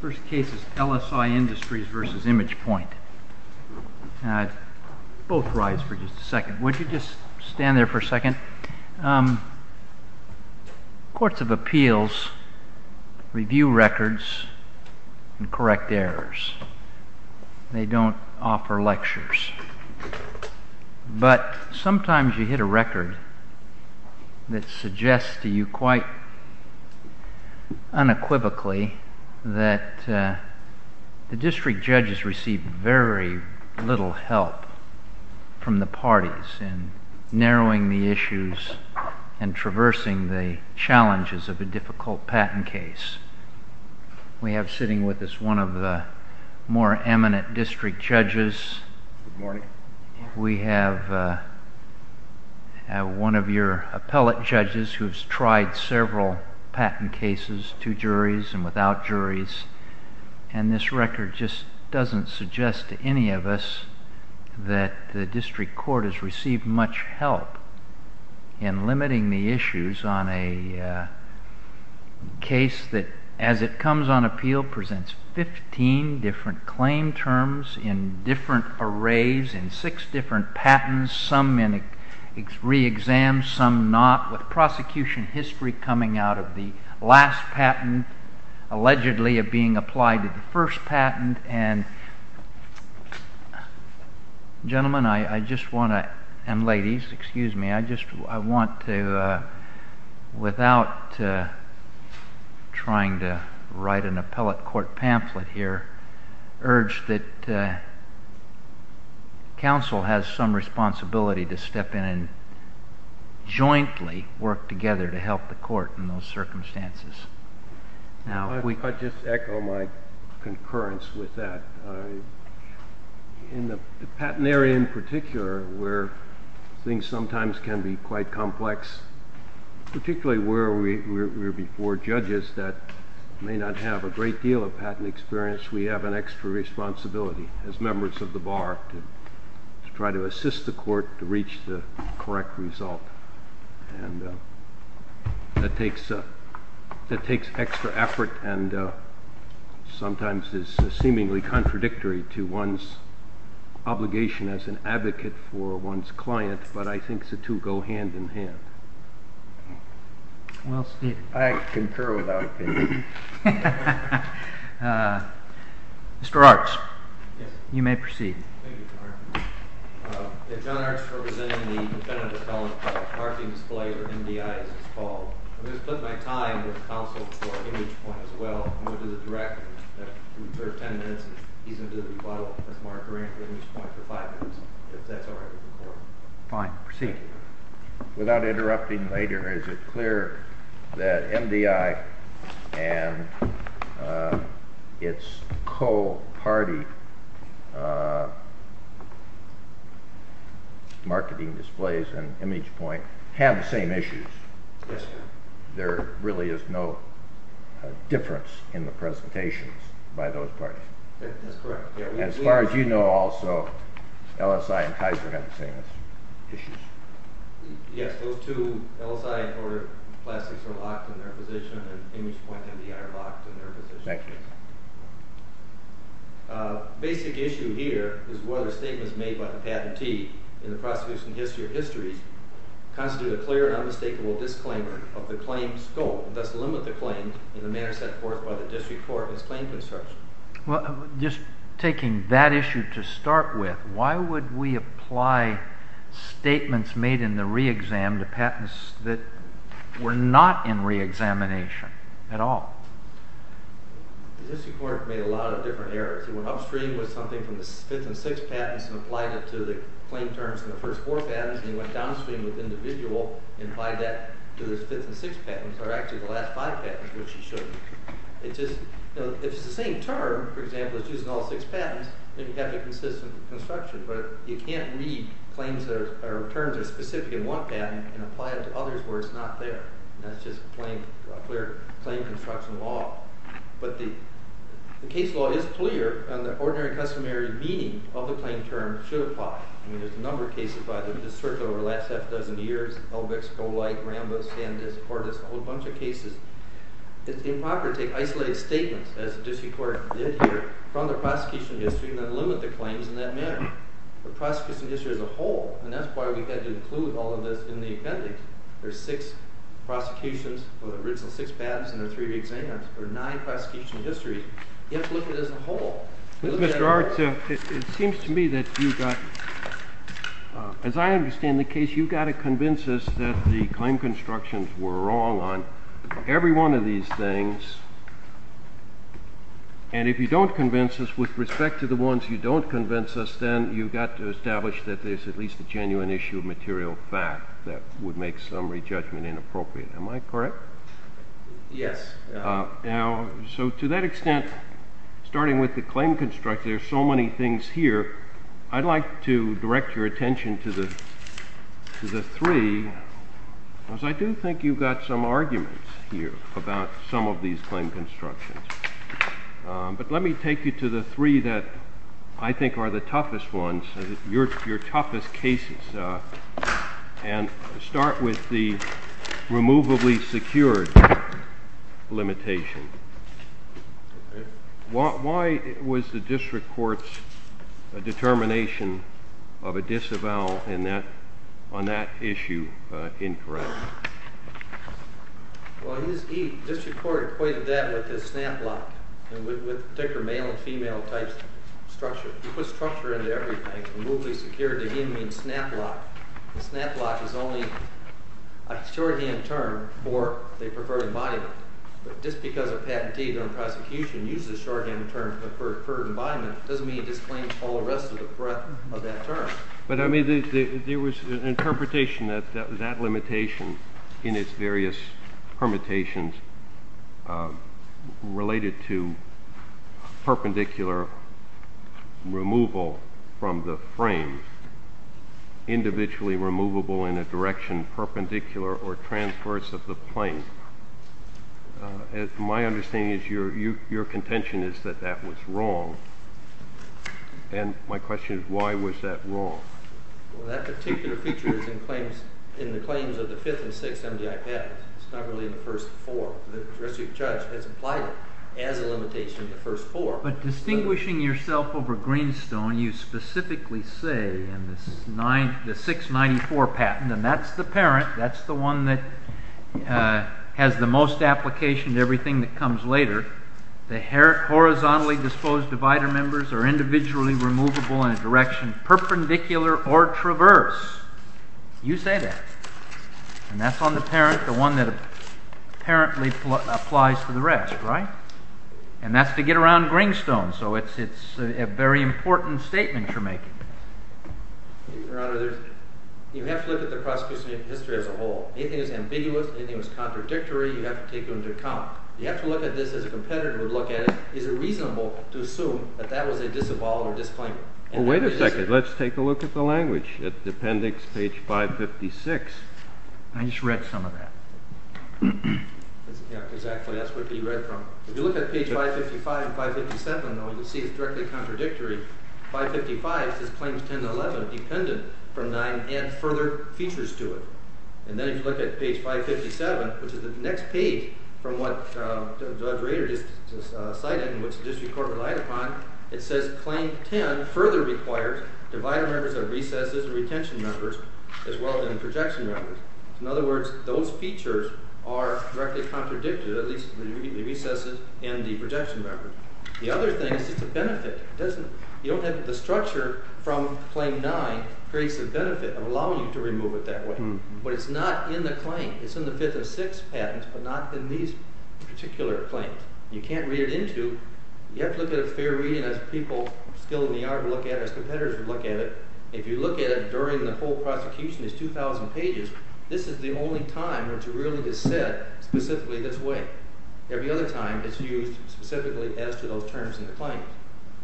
First case is LSI Industries v. Imagepoint. Both rise for just a second. Would you just stand there for a second? Courts of appeals review records and correct errors. They don't offer lectures. But sometimes you hit a record that suggests to you quite unequivocally that the district judges receive very little help from the parties in narrowing the issues and traversing the challenges of a difficult patent case. We have sitting with us one of the more eminent district judges. We have one of your appellate judges who has tried several patent cases to juries and without juries and this record just doesn't suggest to any of us that the district court has received much help in limiting the issues on a case that as it comes on appeal presents fifteen different claim terms in different arrays in six different patents, some last patent allegedly of being applied to the first patent and gentlemen I just want to and ladies excuse me I just want to without trying to write an appellate court pamphlet here urge that council has some responsibility to step in and work together to help the court in those circumstances. I'll just echo my concurrence with that. In the patent area in particular where things sometimes can be quite complex particularly where we are before judges that may not have a great deal of patent experience we have an extra responsibility as members of the bar to try to assist the court to reach the correct result that takes that takes extra effort and sometimes is seemingly contradictory to one's obligation as an advocate for one's client but I think the two go hand in hand. I concur with that opinion. Mr. Arts you may proceed. Thank you Mr. Arthur. John Arts representing the defendant is calling for a parking display or MDI as it's called. I'm going to split my time with council for an image point as well and go to the director for ten minutes and he's going to do the bottle as marker and the image point for five minutes if that's all right with the court. Fine. Proceed. Without interrupting later is it clear that MDI and its co-party marketing displays and image point have the same issues? Yes. There really is no difference in the presentations by those parties? That's correct. As far as you know also LSI and Kaiser have the same issues. Yes, those two, LSI and Kaiser are locked in their positions and image point and MDI are locked in their positions. Basic issue here is whether statements made by the patentee in the prosecution history constitute a clear and unmistakable disclaimer of the claims scope and thus limit the claims in the manner set forth by the district court as claim construction. Just taking that issue to start with why would we apply statements made in the re-exam to patents that were not in re-examination at all? The district court made a lot of different errors. It went upstream with something from the fifth and sixth patents and applied it to the claim terms in the first four patents and it went downstream with individual and applied that to the fifth and sixth patents that are actually the last five patents which it should. If it's the same term, for example, it's used in all six patents, then you have a consistent construction but you can't read claims or terms that are specific in one patent and apply it to others where it's not there. That's just plain claim construction law. But the case law is clear and the ordinary customary meaning of the claim term should apply. There's a number of cases by the district court over the last half dozen years Elbix, Golight, Rambo, Sandisk, Fortis, a whole bunch of cases. It's improper to take isolated statements as the district court did here from the prosecution history and then limit the claims in that manner to the prosecution history as a whole. And that's why we had to include all of this in the appendix. There's six prosecutions for the original six patents and the three re-exams. There are nine prosecution histories. You have to look at it as a whole. Mr. Arts, it seems to me that you've got as I understand the case, you've got to convince us that the claim constructions were wrong on every one of these things and if you don't convince us with respect to the ones you don't convince us then you've got to establish that there's at least a genuine issue of material fact that would make summary judgment inappropriate. Am I correct? Yes. So to that extent starting with the claim construction there's so many things here I'd like to direct your attention to the three because I do think you've got some arguments here about some of these claim constructions. But let me take you to the three that I think are the toughest ones, your toughest cases and start with the removably secured limitation. Why was the district court's determination of a disavowal on that issue incorrect? The district court equated that with a snap lock with male and female type structure. You put structure into everything. Removably secured again means snap lock. A snap lock is only a shorthand term for the preferred embodiment but just because a patentee on prosecution uses a shorthand term for preferred embodiment doesn't mean it disclaims all the rest of the breadth of that term. But I mean there was an interpretation that that limitation in its various permutations related to perpendicular removal from the frame individually removable in a direction perpendicular or transverse of the plane. My understanding is your contention is that that was wrong and my question is why was that wrong? Well that particular feature is in the claims of the first four. The district judge has implied it as a limitation of the first four. But distinguishing yourself over Greenstone you specifically say in this 694 patent and that's the parent, that's the one that has the most application to everything that comes later the horizontally disposed divider members are individually removable in a direction perpendicular or traverse. You say that. And that's on the parent, the one that apparently applies to the rest, right? And that's to get around Greenstone. So it's a very important statement you're making. Your Honor, you have to look at the prosecution history as a whole. Anything that's ambiguous, anything that's contradictory, you have to take into account. You have to look at this as a competitor would look at it. Is it reasonable to assume that that was a disavowed or disclaimed? Well wait a second. Let's take a look at the language. At the appendix page 556 I just read some of that. Exactly, that's what you read from. If you look at page 555 and 557 though, you'll see it's directly contradictory. 555 says claims 10 and 11 dependent from 9 and further features to it. And then if you look at page 557, which is the next page from what Judge Rader just cited and which the district court relied upon, it says claim 10 further requires divider members recesses and retention members as well as projection members. In other words those features are directly contradicted, at least the recesses and the projection members. The other thing is the benefit. You don't have the structure from claim 9 creates the benefit of allowing you to remove it that way. But it's not in the claim. It's in the 5th and 6th patents but not in these particular claims. You can't read it into. You have to look at a fair reading as people still in the yard look at it as competitors look at it. If you look at it during the whole prosecution it's 2,000 pages. This is the only time where it's really said specifically this way. Every other time it's used specifically as to those terms in the claims.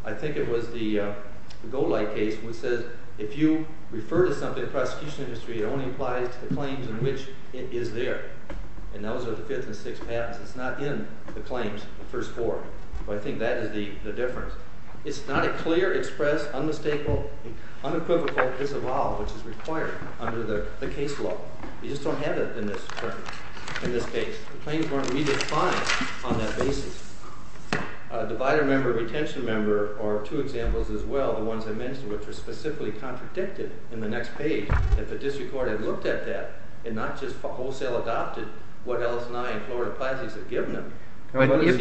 I think it was the Golight case which says if you refer to something in the prosecution industry, it only applies to the claims in which it is there. And those are the 5th and 6th patents. It's not in the claims, the first four. But I think that is the difference. It's not a clear, expressed, unmistakable, unequivocal disavowal which is required under the case law. You just don't have it in this case. Claims weren't redefined on that basis. Divider member, retention member are two examples as well, the ones I mentioned which are specifically contradicted in the next page. If the district court had looked at that and not just wholesale adopted what Ellis and I and Florida Plazzi's have given them. But if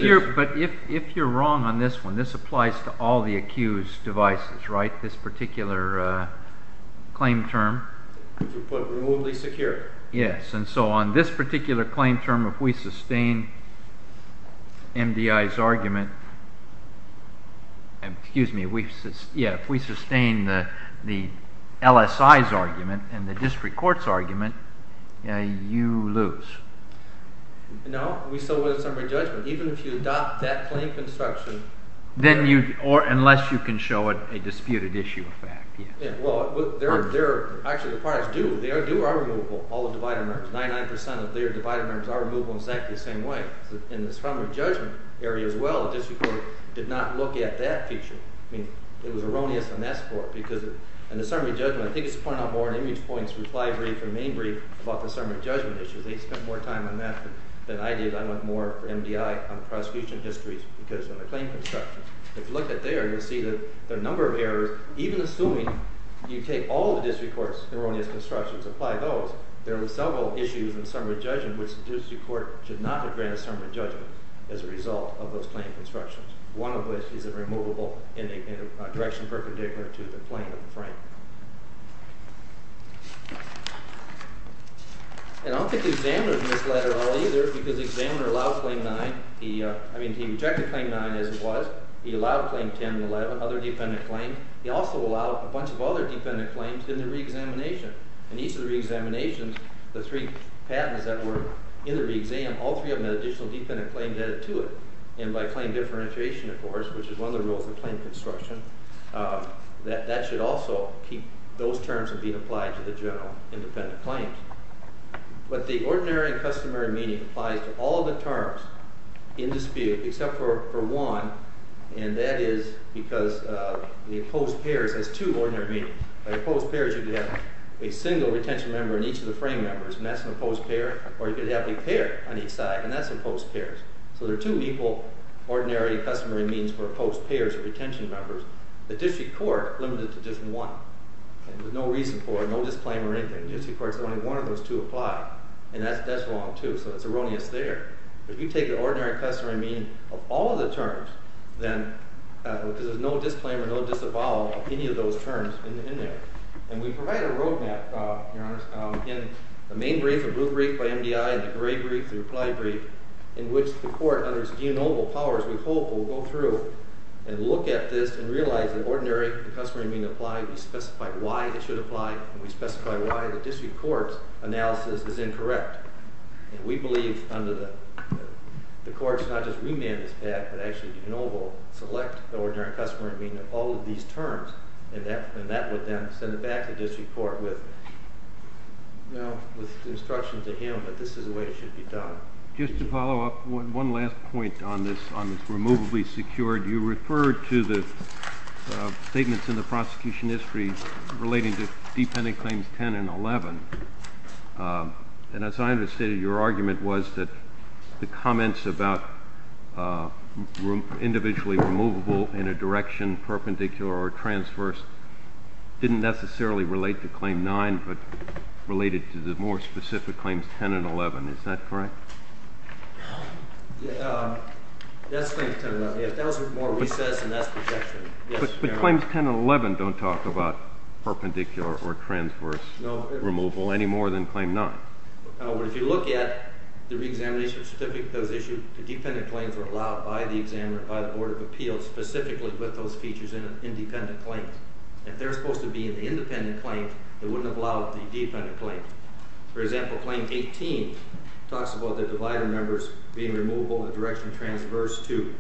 you're wrong on this one, this applies to all the accused devices, right? This particular claim term. Yes, and so on. This particular claim term, if we sustain MDI's argument, excuse me, if we sustain the LSI's argument and the district court's argument, you lose. No, we still win in summary judgment. Even if you adopt that claim construction. Unless you can show it a disputed issue of fact. Actually, the parties do. They do our removal, all the divider members. 99% of their divider members are removed in exactly the same way. In the summary judgment area as well, the district court did not look at that feature. It was erroneous on that score because in the summary judgment, I think it's pointed out more in image points, reply brief and main brief about the summary judgment issues. They spent more time on that than I did. I went more for MDI on prosecution histories because of the claim construction. If you look at there, you'll see that the number of errors, even assuming you take all the district court's erroneous constructions and apply those, there are several issues in summary judgment which the district court should not have granted summary judgment as a result of those claim constructions. One of which is a removable direction perpendicular to the claim frame. I don't think the examiner misled it all either because the examiner allowed claim 9, I mean he rejected claim 9 as it was. He allowed claim 10 and 11, other defendant claims. He also allowed a bunch of other defendant claims in the re-examination. In each of the re-examinations, the three patents that were in the re-exam, all three of them had additional defendant claims added to it. By claim differentiation, of course, which is one of the rules of claim construction, that should also keep those terms being applied to the general independent claims. But the ordinary and customary meaning applies to all the terms in dispute except for one, and that is because the opposed pairs has two ordinary meanings. By opposed pairs you could have a single retention member in each of the frame members, and that's an opposed pair. Or you could have a pair on each side, and that's an opposed pair. So there are two equal ordinary and customary means for opposed pairs of retention members. The district court limited it to just one. There's no reason for it, no disclaim or anything. The district court said only one of those two apply, and that's wrong, too. So it's erroneous there. If you take the ordinary and customary meaning of all of the terms, then there's no disclaim or no disavow of any of those terms in there. And we provide a roadmap, in the main brief, the blue brief by MDI, the gray brief, the reply brief, in which the court, under its geo-noble powers, we hope, will go through and look at this and realize that ordinary and customary meaning apply, we specify why it should apply, and we specify why the district court's analysis is incorrect. And we believe, under the court's not just remandist act, but actually geo-noble, select the ordinary and customary meaning of all of these terms, and that would then send it back to the district court with instruction to him that this is the way it should be done. Just to follow up, one last point on this removably secured. You referred to the statements in the prosecution history relating to dependent claims 10 and 11. And as I understand it, your argument was that the comments about individually removable in a direction perpendicular or transverse didn't necessarily relate to claim 9, but related to the more specific claims 10 and 11. Is that correct? No. That's claim 10 and 11. That was with more recess, and that's projection. But claims 10 and 11 don't talk about perpendicular or transverse removal any more than claim 9. If you look at the reexamination certificate that was issued, the dependent claims were allowed by the board of appeals specifically with those features in independent claims. If they're supposed to be in the independent claims, they wouldn't have allowed the dependent claims. For example, claim 18 talks about the divided members being removable in a direction transverse to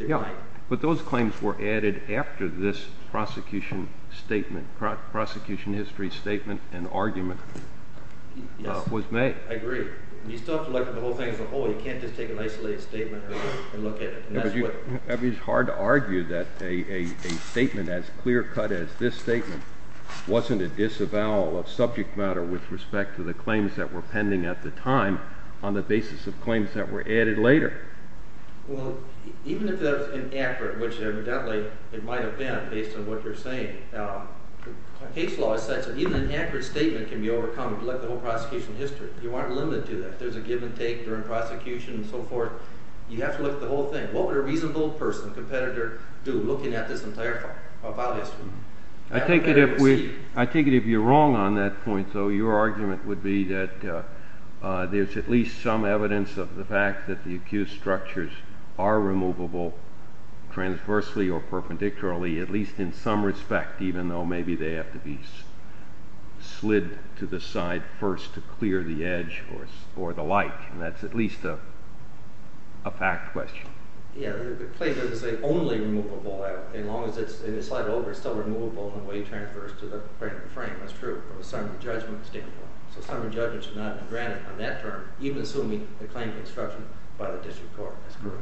9. But those claims were added after this prosecution statement, prosecution history statement and argument was made. I agree. You still have to look at the whole thing as a whole. You can't just take an isolated statement and look at it. It's hard to argue that a statement as clear-cut as this statement wasn't a disavowal of claims that were pending at the time on the basis of claims that were added later. Well, even if that was inaccurate, which evidently it might have been based on what you're saying, case law is such that even an accurate statement can be overcome if you look at the whole prosecution history. You aren't limited to that. There's a give and take during prosecution and so forth. You have to look at the whole thing. What would a reasonable person, competitor, do looking at this entire file history? I take it if you're wrong on that point, your argument would be that there's at least some evidence of the fact that the accused structures are removable transversely or perpendicularly at least in some respect even though maybe they have to be slid to the side first to clear the edge or the like. That's at least a fact question. The claim is that it's only removable. As long as it's slide over, it's still removable in the way it transfers to the frame. That's true. Some of the judgment is different. Some of the judgment should not be granted on that term, even assuming the claim construction by the district court. That's correct.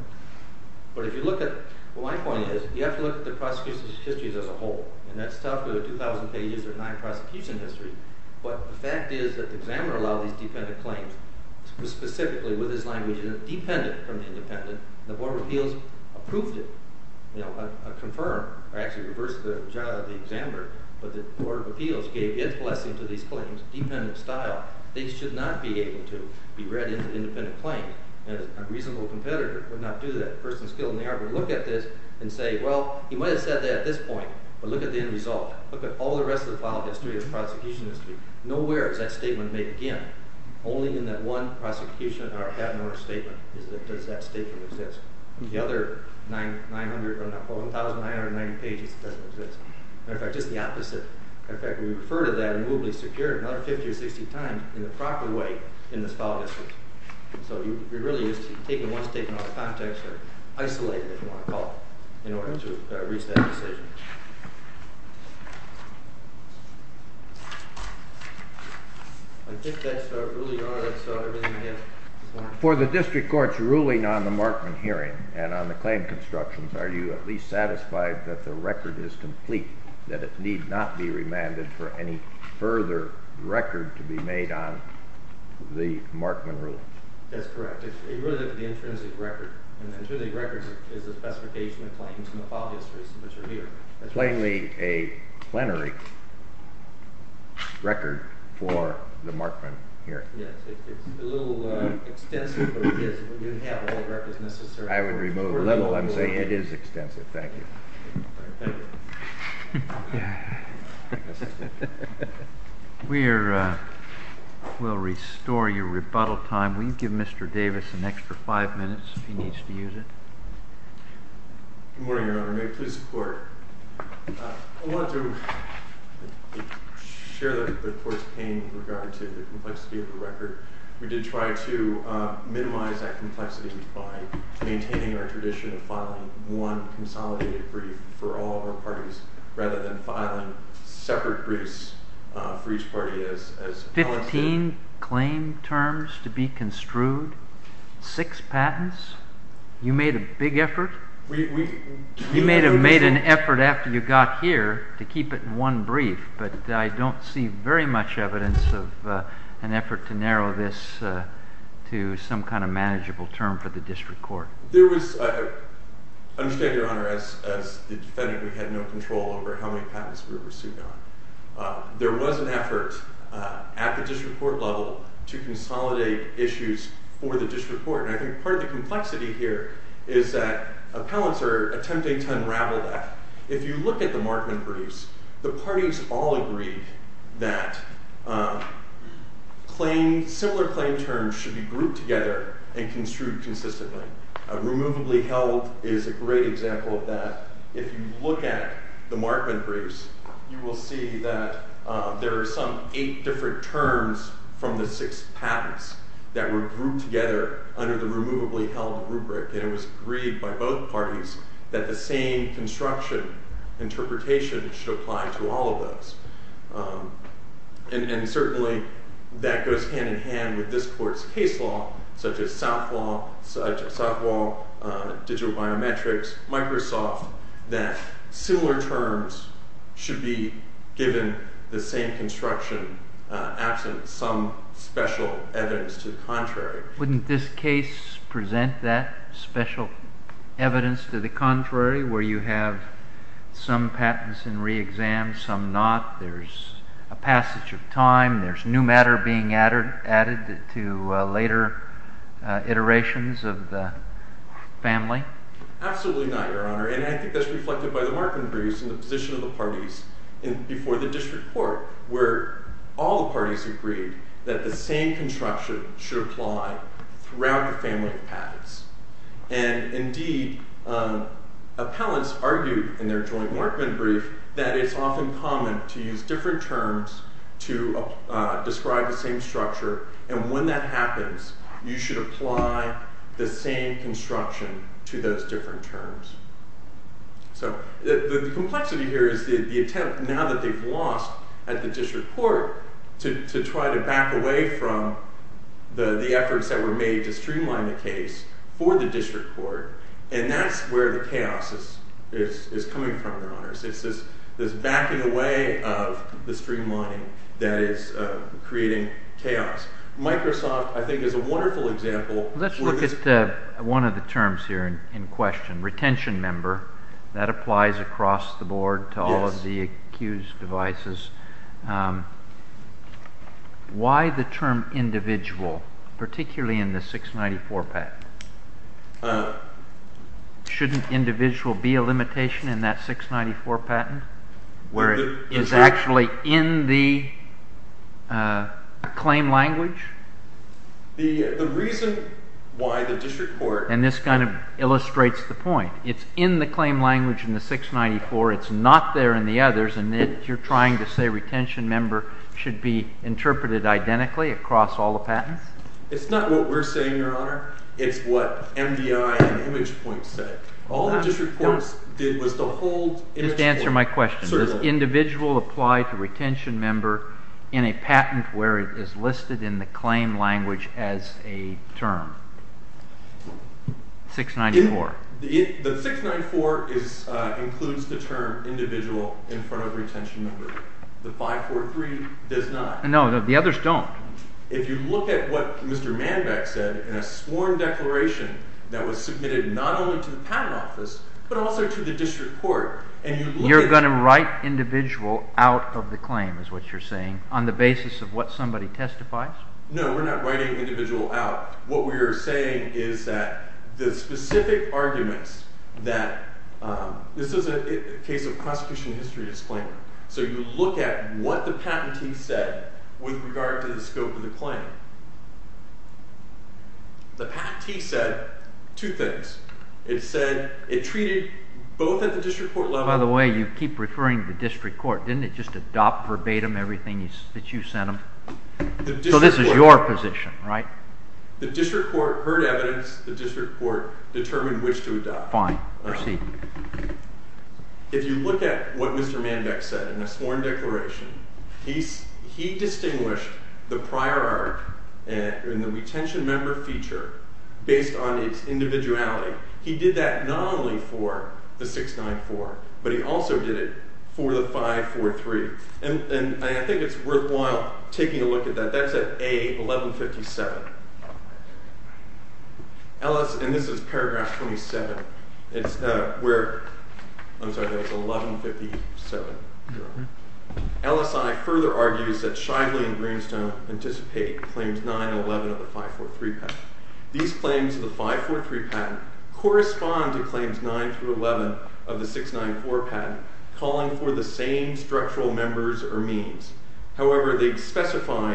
My point is, you have to look at the prosecution histories as a whole. That's 2,000 pages or nine prosecution histories, but the fact is that the examiner allowed these dependent claims specifically with his language dependent from the independent. The board of appeals approved it. Confirmed, or actually reversed the job of the examiner, but the board of appeals gave its blessing to these claims dependent style. These should not be able to be read as an independent claim. A reasonable competitor would not do that. A person skilled in the art would look at this and say, well, he might have said that at this point, but look at the end result. Look at all the rest of the file history, the prosecution history. Nowhere is that statement made again. Only in that one prosecution or admiral statement does that statement exist. The other 1,990 pages doesn't exist. Matter of fact, just the opposite. Matter of fact, we refer to that immovably secured another 50 or 60 times in the proper way in this file history. So you really just take the one statement out of context or isolate it, if you want to call it, in order to reach that decision. For the district court's ruling on the Markman hearing and on the claim constructions, are you at least satisfied that the record is complete, that it need not be remanded for any further record to be made on the Markman ruling? That's correct. It's really the intrinsic record. An intrinsic record is a specification of claims in the file histories, which are here. Plainly a plenary record for the Markman hearing. It's a little extensive, but it is. You don't have all the records necessarily. I would remove a little and say it is extensive. Thank you. We'll restore your rebuttal time. Will you give Mr. Davis an extra five minutes if he needs to use it? Good morning, Your Honor. May I please support? I wanted to to the complexity of the record. We did try to minimize that complexity by maintaining our tradition of filing one consolidated brief for all of our parties rather than filing separate briefs for each party. Fifteen claim terms to be construed? Six patents? You made a big effort? You may have made an effort after you got here to keep it in one brief, but I don't see very much evidence of an effort to narrow this to some kind of manageable term for the district court. I understand, Your Honor, as the defendant, we had no control over how many patents we were pursuing. There was an effort at the district court level to consolidate issues for the district court, and I think part of the complexity here is that appellants are attempting to unravel that. If you look at the Markman briefs, the parties all agreed that similar claim terms should be grouped together and construed consistently. Removably held is a great example of that. If you look at the Markman briefs, you will see that there are some eight different terms from the six patents that were grouped together under the Removably Held rubric, and it was agreed by both parties that the same construction interpretation should apply to all of those. And certainly that goes hand in hand with this court's case law, such as Southwall, Digital Biometrics, Microsoft, that similar terms should be given the same construction, absent some special evidence to the contrary. Wouldn't this case present that special evidence to the contrary, where you have some patents in re-exam, some not, there's a passage of time, there's new matter being added to later iterations of the family? Absolutely not, Your Honor, and I think that's reflected by the Markman briefs and the position of the parties before the district court, where all the parties agreed that the same construction should apply throughout the family of patents. And indeed, appellants argued in their joint Markman brief that it's often common to use different terms to describe the same structure, and when that happens, you should apply the same construction to those different terms. So, the complexity here is the attempt, now that they've lost at the district court, to try to back away from the efforts that were made to streamline the case for the district court, and that's where the chaos is coming from, Your Honor. It's this backing away of the streamlining that is creating chaos. Microsoft, I think, is a wonderful example. Let's look at one of the terms here in question, retention member, that applies across the board to all of the accused devices. Why the term individual, particularly in the 694 patent? Shouldn't individual be a limitation in that 694 patent, where it is actually in the claim language? The reason why the district court And this kind of illustrates the point. It's in the claim language in the 694, it's not there in the others, and yet you're trying to say retention member should be interpreted identically across all the patents? It's not what we're saying, Your Honor. It's what MDI and ImagePoint said. All the district courts did was to hold Just answer my question. Does individual apply to retention member in a patent where it is listed in the claim language as a term? 694. The 694 includes the term individual in front of retention member. The 543 does not. No, the others don't. If you look at what Mr. Manbeck said in a sworn declaration that was submitted not only to the patent office but also to the district court You're going to write individual out of the claim, is what you're saying, on the basis of what somebody testifies? No, we're not writing individual out. What we're saying is that the specific arguments that this is a case of prosecution history disclaimer. So you look at what the patentee said with regard to the scope of the claim. The patentee said two things. It said it treated both at the district court level By the way, you keep referring to the district court. Didn't it just adopt verbatim everything that you sent them? So this is your position, right? The district court heard evidence the district court determined which to adopt. Fine. Proceed. If you look at what Mr. Manbeck said in a sworn declaration he distinguished the prior art and the retention member feature based on its individuality He did that not only for the 694, but he also did it for the 543 and I think it's worthwhile taking a look at that. That's at A, 1157 And this is paragraph 27 It's where I'm sorry, that was 1157 LSI further argues that Shively and Greenstone anticipate claims 911 of the 543 patent These claims of the 543 patent correspond to claims 9 through 11 of the 694 patent calling for the same structural members or means However, they specify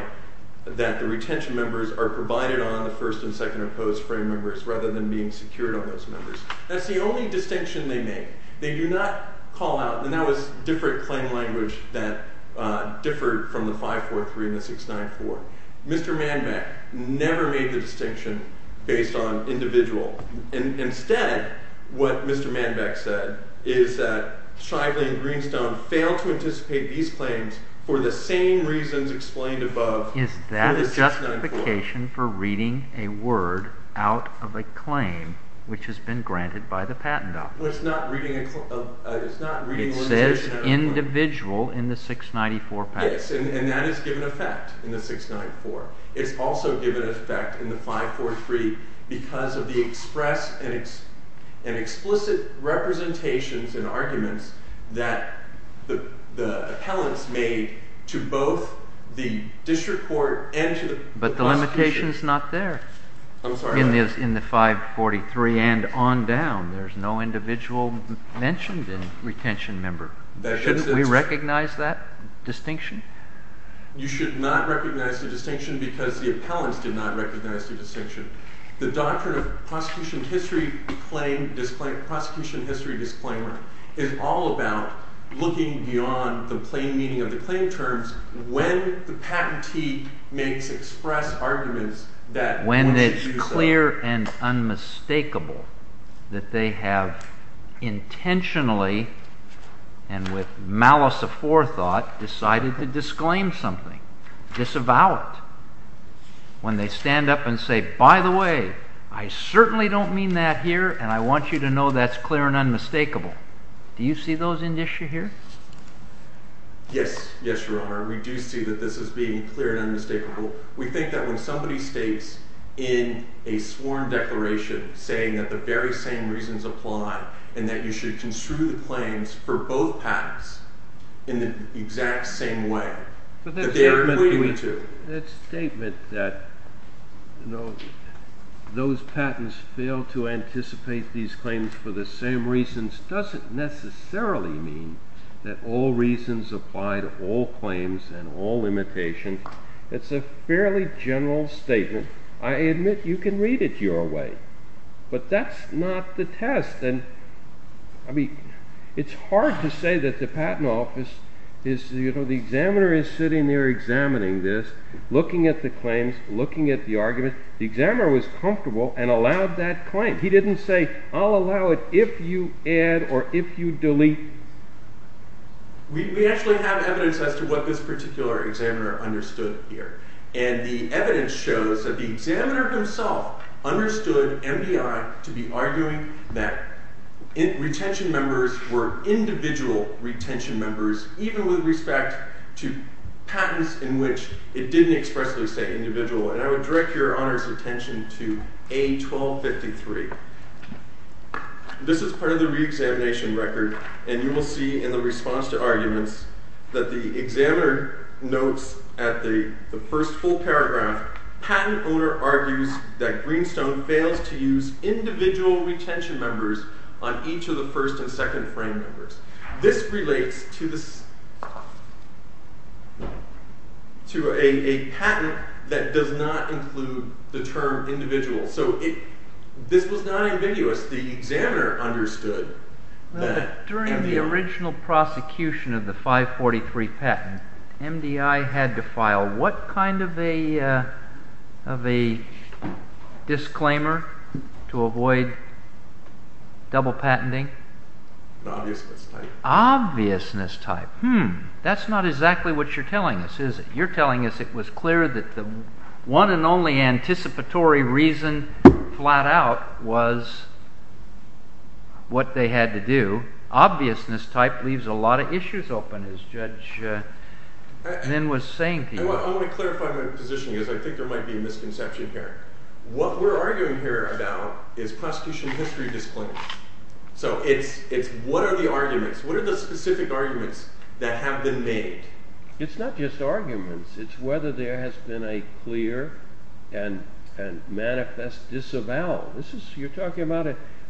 that the retention members are provided on the first and second opposed frame members rather than being secured on those members That's the only distinction they make They do not call out and that was different claim language that differed from the 543 and the 694. Mr. Manbeck never made the distinction based on individual Instead, what Mr. Manbeck said is that Shively and Greenstone failed to anticipate these claims for the same reasons explained above Is that a justification for reading a word out of a claim which has been granted by the patent office? It says individual in the 694 patent Yes, and that is given effect in the 694 It's also given effect in the 543 because of the express and explicit representations and arguments that the appellants made to both the district court and to the prosecution The representation is not there in the 543 and on down. There's no individual mentioned in retention member. Shouldn't we recognize that distinction? You should not recognize the distinction because the appellants did not recognize the distinction. The doctrine of prosecution history claim prosecution history disclaimer is all about looking beyond the plain meaning of the claim terms when the patentee makes express arguments When it's clear and unmistakable that they have intentionally and with malice of forethought decided to disclaim something disavow it when they stand up and say by the way, I certainly don't mean that here and I want you to know that's clear and unmistakable. Do you see those in issue here? Yes, your honor. We do see that this is being clear and unmistakable We think that when somebody states in a sworn declaration saying that the very same reasons apply and that you should construe the claims for both patents in the exact same way that they are equating to That statement that you know those patents fail to anticipate these claims for the same reasons doesn't necessarily mean that all reasons apply to all claims and all limitations. It's a fairly general statement. I admit you can read it your way but that's not the test and I mean it's hard to say that the patent office is you know the examiner is sitting there examining this looking at the claims looking at the argument. The examiner was comfortable and allowed that claim. He didn't say I'll allow it if you add or if you delete We actually have evidence as to what this particular examiner understood here and the evidence shows that the examiner himself understood MBI to be arguing that retention members were individual retention members even with respect to patents in which it didn't expressly say individual and I would direct your honors attention to A1253 This is part of the reexamination record and you will see in the response to arguments that the examiner notes at the first full paragraph, patent owner argues that Greenstone fails to use individual retention members on each of the first and second frame members. This relates to this to a patent that does not include the term individual so this was not understood During the original prosecution of the 543 patent, MDI had to file what kind of a disclaimer to avoid double patenting? Obviousness type Hmm, that's not exactly what you're telling us is it? You're telling us it was clear that the one and only anticipatory reason flat out was what they had to do. Obviousness type leaves a lot of issues open as Judge Nen was saying to you. I want to clarify my position because I think there might be a misconception here What we're arguing here about is prosecution history disclaimer so it's what are the arguments, what are the specific arguments that have been made? It's not just arguments, it's whether there has been a clear and manifest disavowal. You're talking about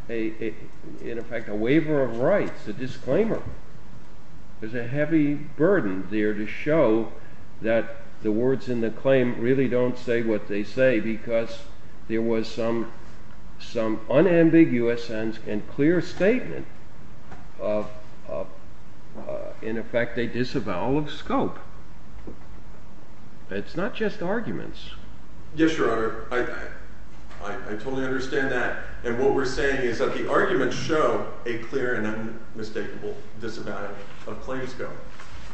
in effect a waiver of rights, a disclaimer There's a heavy burden there to show that the words in the claim really don't say what they say because there was some unambiguous and clear statement of in effect a disavowal of scope It's not just arguments Yes your honor I totally understand that and what we're saying is that the arguments show a clear and unmistakable disavowal of claims scope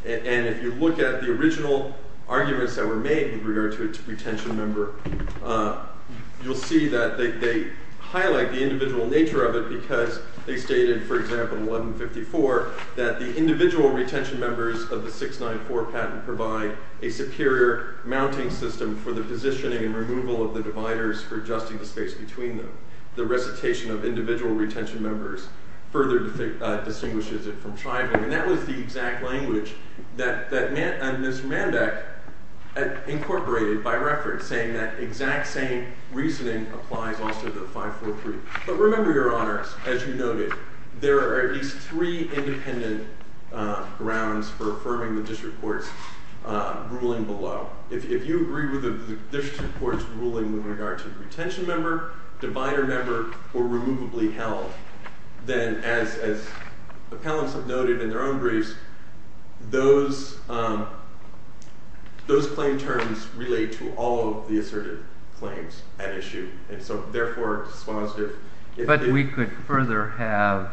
and if you look at the original arguments that were made in regard to a retention member you'll see that they highlight the individual nature of it because they stated for example in 1154 that the individual retention members of the 694 patent provide a superior mounting system for the positioning and removal of the dividers for adjusting the space between them. The recitation of individual retention members further distinguishes it from striving and that was the exact language that Ms. Manbeck incorporated by reference saying that exact same reasoning applies also to the 543. But remember your honors as you noted, there are at least three independent grounds for affirming the district court's ruling below. If you agree with the district court's ruling with regard to retention member, divider member or removably held then as appellants have noted in their own briefs those those claim terms relate to all of the asserted claims at issue and so therefore it's positive But we could further have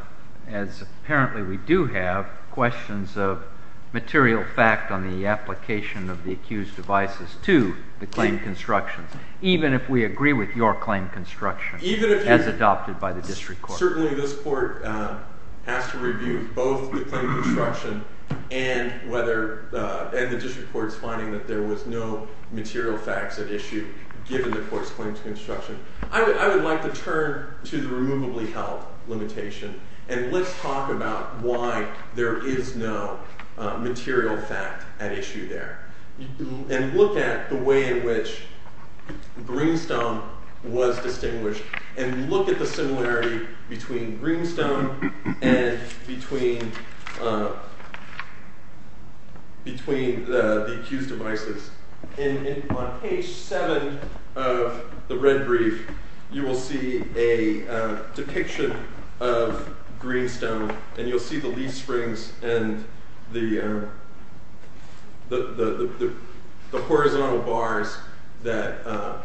as apparently we do have questions of material fact on the application of the accused devices to the claim construction even if we agree with your claim construction as adopted by the district court. Certainly this court has to review both the claim construction and whether and the district court's finding that there was no material facts at issue given the court's claims construction. I would like to turn to the removably held limitation and let's talk about why there is no material fact at issue there. And look at the way in which Greenstone was distinguished and look at the similarity between Greenstone and between between the accused devices. On page seven of the red brief you will see a depiction of Greenstone and you'll see the leaf springs and the the horizontal bars that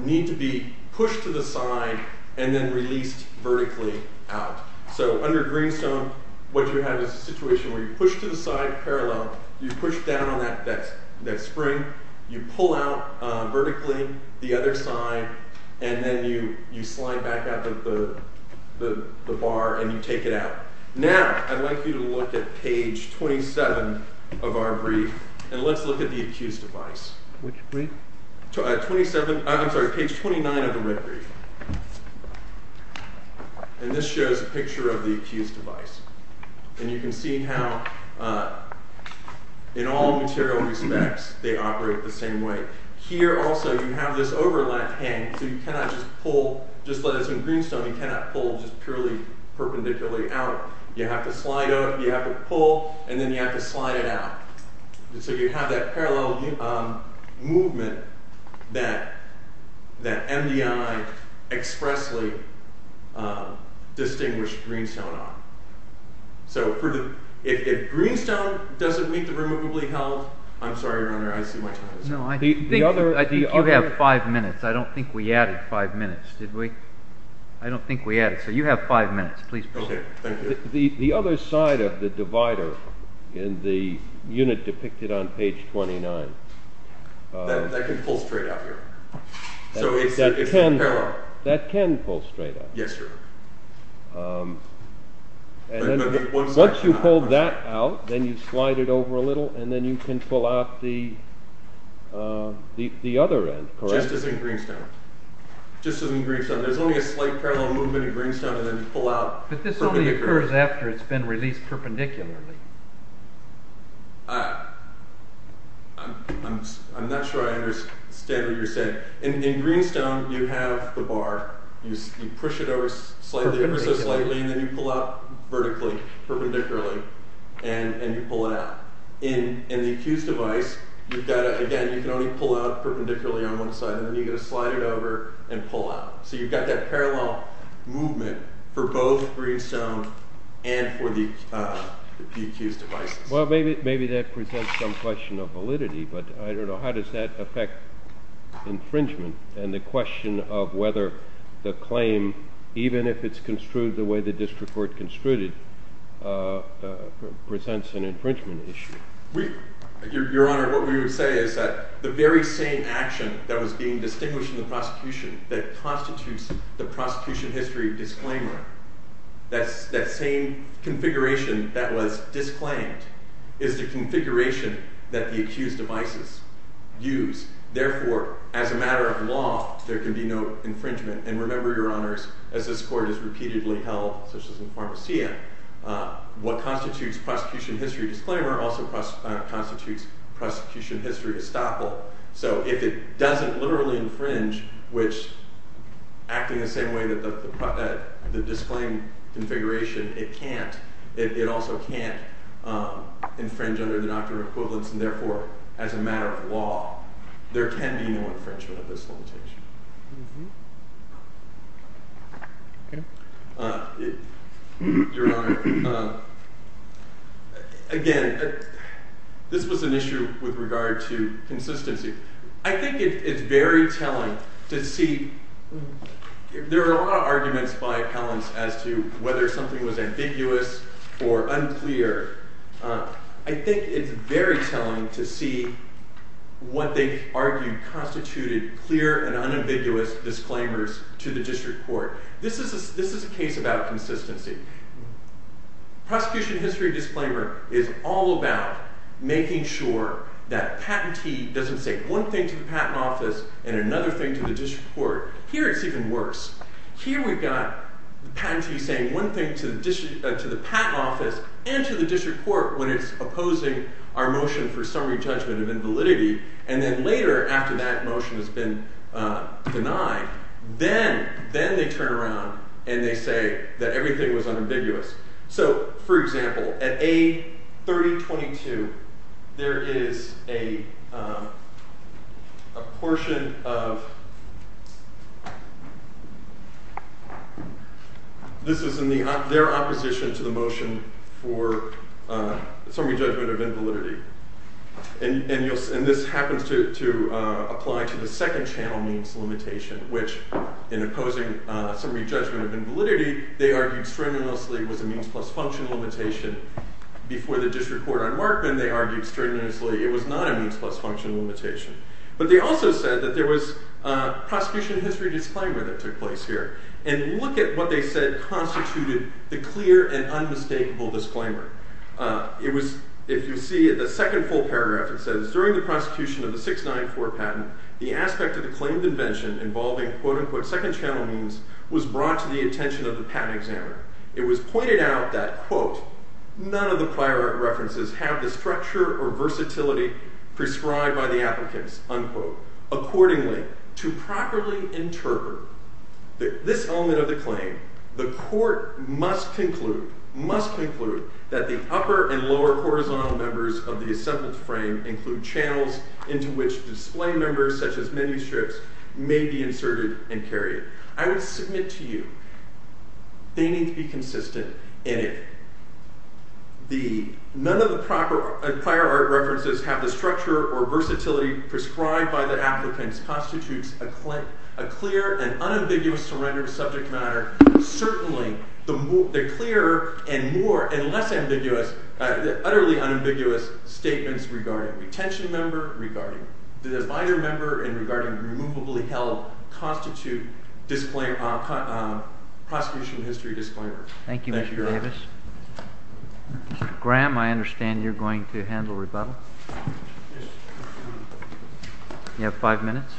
need to be pushed to the side and then released vertically out so under Greenstone what you have is a situation where you push to the side parallel, you push down on that spring, you pull out vertically the other side and then you slide back out the bar and you take it out. Now, I'd like you to look at page 27 of our brief and let's look at the accused device. Which brief? Page 29 of the red brief. And this shows a picture of the accused device. And you can see how in all material respects they operate the same way. Here also you have this overlap hanging so you cannot just pull just as in Greenstone you cannot pull just purely perpendicularly out. You have to slide out, you have to pull and then you have to slide it out. So you have that parallel movement that MDI expressly distinguished Greenstone on. So if Greenstone doesn't meet the Removably Held I'm sorry your honor I see my time is up. I think you have five minutes I don't think we added five minutes. Did we? I don't think we added. So you have five minutes please proceed. The other side of the divider in the unit depicted on page 29 That can pull straight out here. So it's parallel. That can pull straight out. Yes sir. Once you pull that out then you slide it over a little and then you can pull out the the other end. Just as in Greenstone. Just as in Greenstone. There's only a slight parallel movement in Greenstone and then you pull out. But this only occurs after it's been released perpendicularly. I'm not sure I understand what you're saying. In Greenstone you have the bar. You push it over slightly and then you pull out vertically, perpendicularly and you pull it out. In the Accused device again you can only pull out perpendicularly on one side and then you can slide it over and pull out. So you've got that parallel movement for both Greenstone and for the PQ's devices. Well maybe that presents some question of validity but I don't know how does that affect infringement and the question of whether the claim even if it's construed the way the district court construed it presents an infringement issue. Your Honor, what we would say is that the very same action that was being distinguished in the prosecution that constitutes the prosecution history disclaimer that same configuration that was disclaimed is the configuration that the accused devices use. Therefore as a matter of law there can be no infringement and remember Your Honors as this court is repeatedly held such as in Pharmacia what constitutes prosecution history disclaimer also constitutes prosecution history estoppel. So if it doesn't literally infringe which acting the same way that the disclaimed configuration it can't it also can't infringe under the doctrine of equivalence and therefore as a matter of law there can be no infringement of this limitation. Your Honor, again this was an issue with regard to consistency I think it's very telling to see there are a lot of arguments by appellants as to whether something was ambiguous or unclear I think it's very telling to see what they argued constituted clear and unambiguous disclaimers to the district court. This is a case about consistency. Prosecution history disclaimer is all about making sure that patentee doesn't say one thing to the patent office and another thing to the district court. Here it's even worse. Here we've got the patentee saying one thing to the patent office and to the district court when it's opposing our motion for summary judgment of invalidity and then later after that motion has been denied, then they turn around and they say that everything was unambiguous. For example, at A 3022 there is a a portion of this is in their opposition to the motion for summary judgment of invalidity and this happens to apply to the second channel means limitation which in opposing summary judgment of invalidity they argued strenuously was a means plus function limitation before the district court on Markman they argued strenuously it was not a means plus function limitation but they also said that there was prosecution history disclaimer that took place here and look at what they said constituted the clear and unmistakable disclaimer. If you see the second full paragraph it says during the prosecution of the 694 patent the aspect of the claimed invention involving quote unquote second channel means was brought to the attention of the patent examiner it was pointed out that quote none of the prior references have the structure or versatility prescribed by the applicants unquote. Accordingly to properly interpret this element of the claim the court must conclude must conclude that the upper and lower horizontal members of the assembly frame include channels into which display members such as many strips may be inserted and carried. I would submit to you they need to be consistent in it the none of the proper prior art references have the structure or versatility prescribed by the applicants constitutes a clear and unambiguous surrender of subject matter certainly the clearer and more and less ambiguous utterly unambiguous statements regarding retention member regarding the binder member and regarding removably held constitute disclaimer prosecution history disclaimer. Thank you Mr. Davis. Mr. Graham I understand you're going to handle rebuttal you have five minutes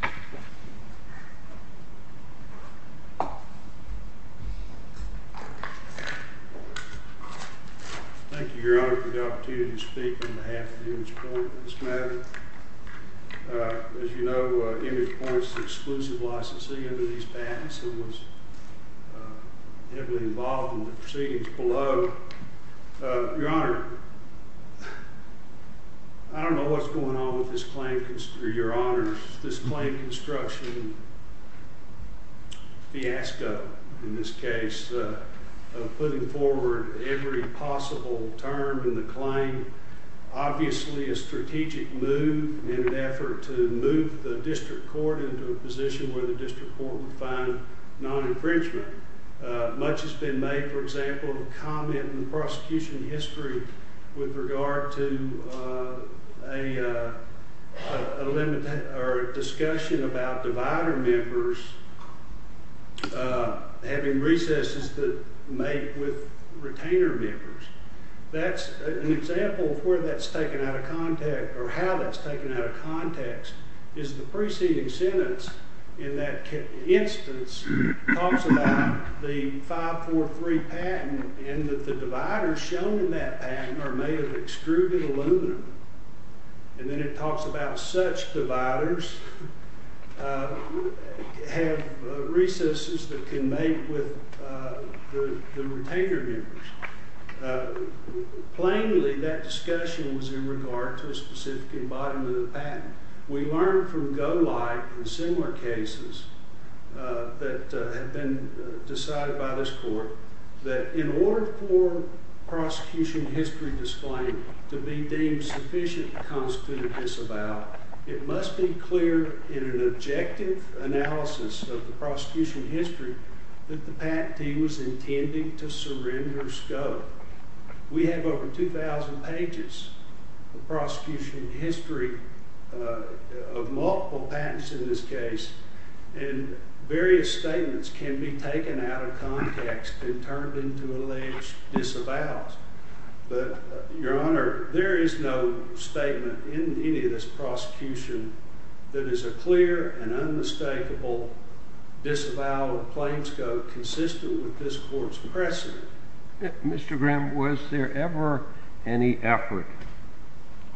Thank you Thank you your honor for the opportunity to speak on behalf of ImagePoint as you know ImagePoint is the exclusive licensee under these patents and was heavily involved in the proceedings below your honor I don't know what's going on with this claim your honor this claim construction fiasco in this case putting forward every possible term in the claim obviously a strategic move in an effort to move the district court into a position where the district court would find non infringement much has been made for example in the prosecution history with regard to a discussion about divider members having recesses that make with retainer members that's an example of where that's taken out of context or how that's taken out of context is the preceding sentence in that instance talks about the 543 patent and that the dividers shown in that patent are made of extruded aluminum and then it talks about such dividers have recesses that can make with the retainer members plainly that discussion was in regard to a specific embodiment of the patent we learned from Golight and similar cases that had been decided by this court that in order for prosecution history to be deemed sufficient to constitute a disavow it must be clear in an objective analysis of the prosecution history that the patentee was intending to surrender scope we have over 2000 pages of prosecution history of multiple patents in this case and various statements can be taken out of context and turned into alleged disavows but your honor there is no statement in any of this prosecution that is a clear and unmistakable disavow of plain scope consistent with this court's precedent Mr. Graham was there ever any effort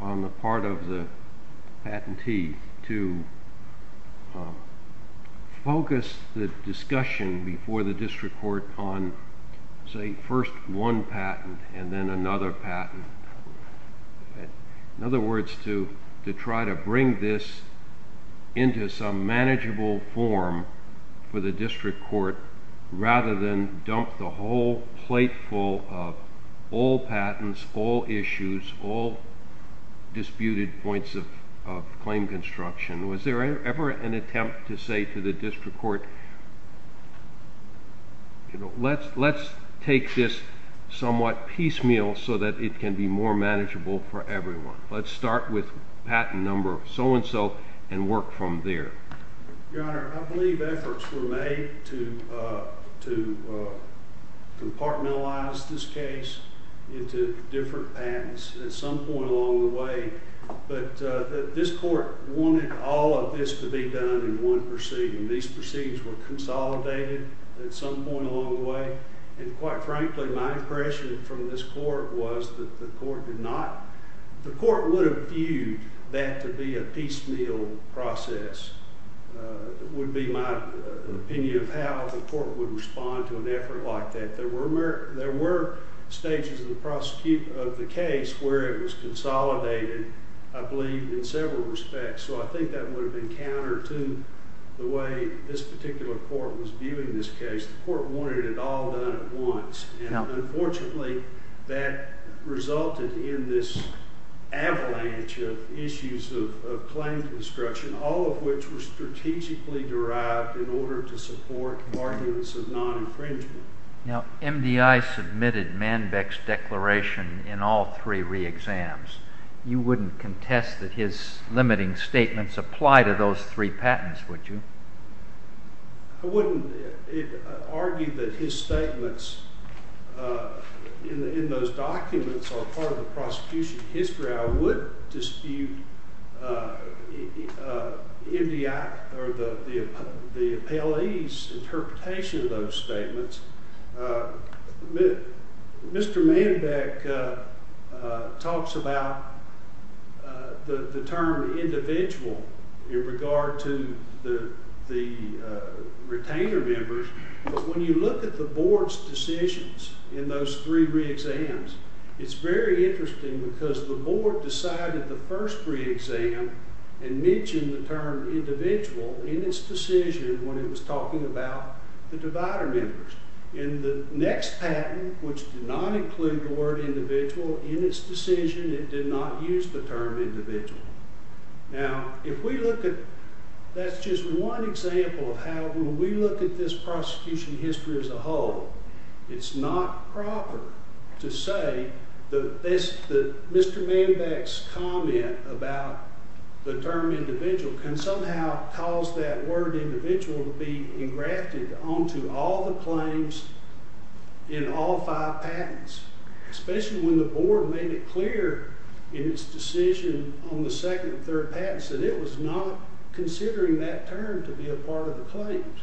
on the part of the patentee to focus the discussion before the district court on say first one patent and then another patent in other words to try to bring this into some manageable form for the district court rather than dump the whole plate full of all patents all issues all disputed points of claim construction was there ever an attempt to say to the let's take this somewhat piecemeal so that it can be more manageable for everyone let's start with patent number so and so and work from there your honor I believe efforts were made to compartmentalize this case into different patents at some point along the way but this court wanted all of this to be done in one proceeding these proceedings were consolidated at some point along the way and quite frankly my impression from this court was that the court did not the court would have viewed that to be a piecemeal process would be my opinion of how the court would respond to an effort like that there were stages of the prosecution of the case where it was consolidated I believe in several respects so I think that would have been counter to the way this particular court was viewing this case the court wanted it all done at once and unfortunately that resulted in this avalanche of issues of claim construction all of which were strategically derived in order to support arguments of non infringement now MDI submitted Manbeck's declaration in all three re-exams you wouldn't contest that his limiting statements apply to those three patents would you? I wouldn't argue that his statements in those documents are part of the prosecution history I would dispute MDI the appellee's interpretation of those statements Mr. Manbeck talks about the term individual in regard to the retainer members when you look at the board's decisions in those three re-exams it's very interesting because the board decided the first re-exam and mentioned the term individual in its decision when it was talking about the divider members in the next patent which did not include the word individual in its decision it did not use the term individual now if we look at that's just one example of how when we look at this prosecution history as a whole it's not proper to say that Mr. Manbeck's comment about the term individual can somehow cause that word individual to be engrafted onto all the claims in all five patents especially when the board made it clear in its decision on the second and third patents that it was not considering that term to be a part of the claims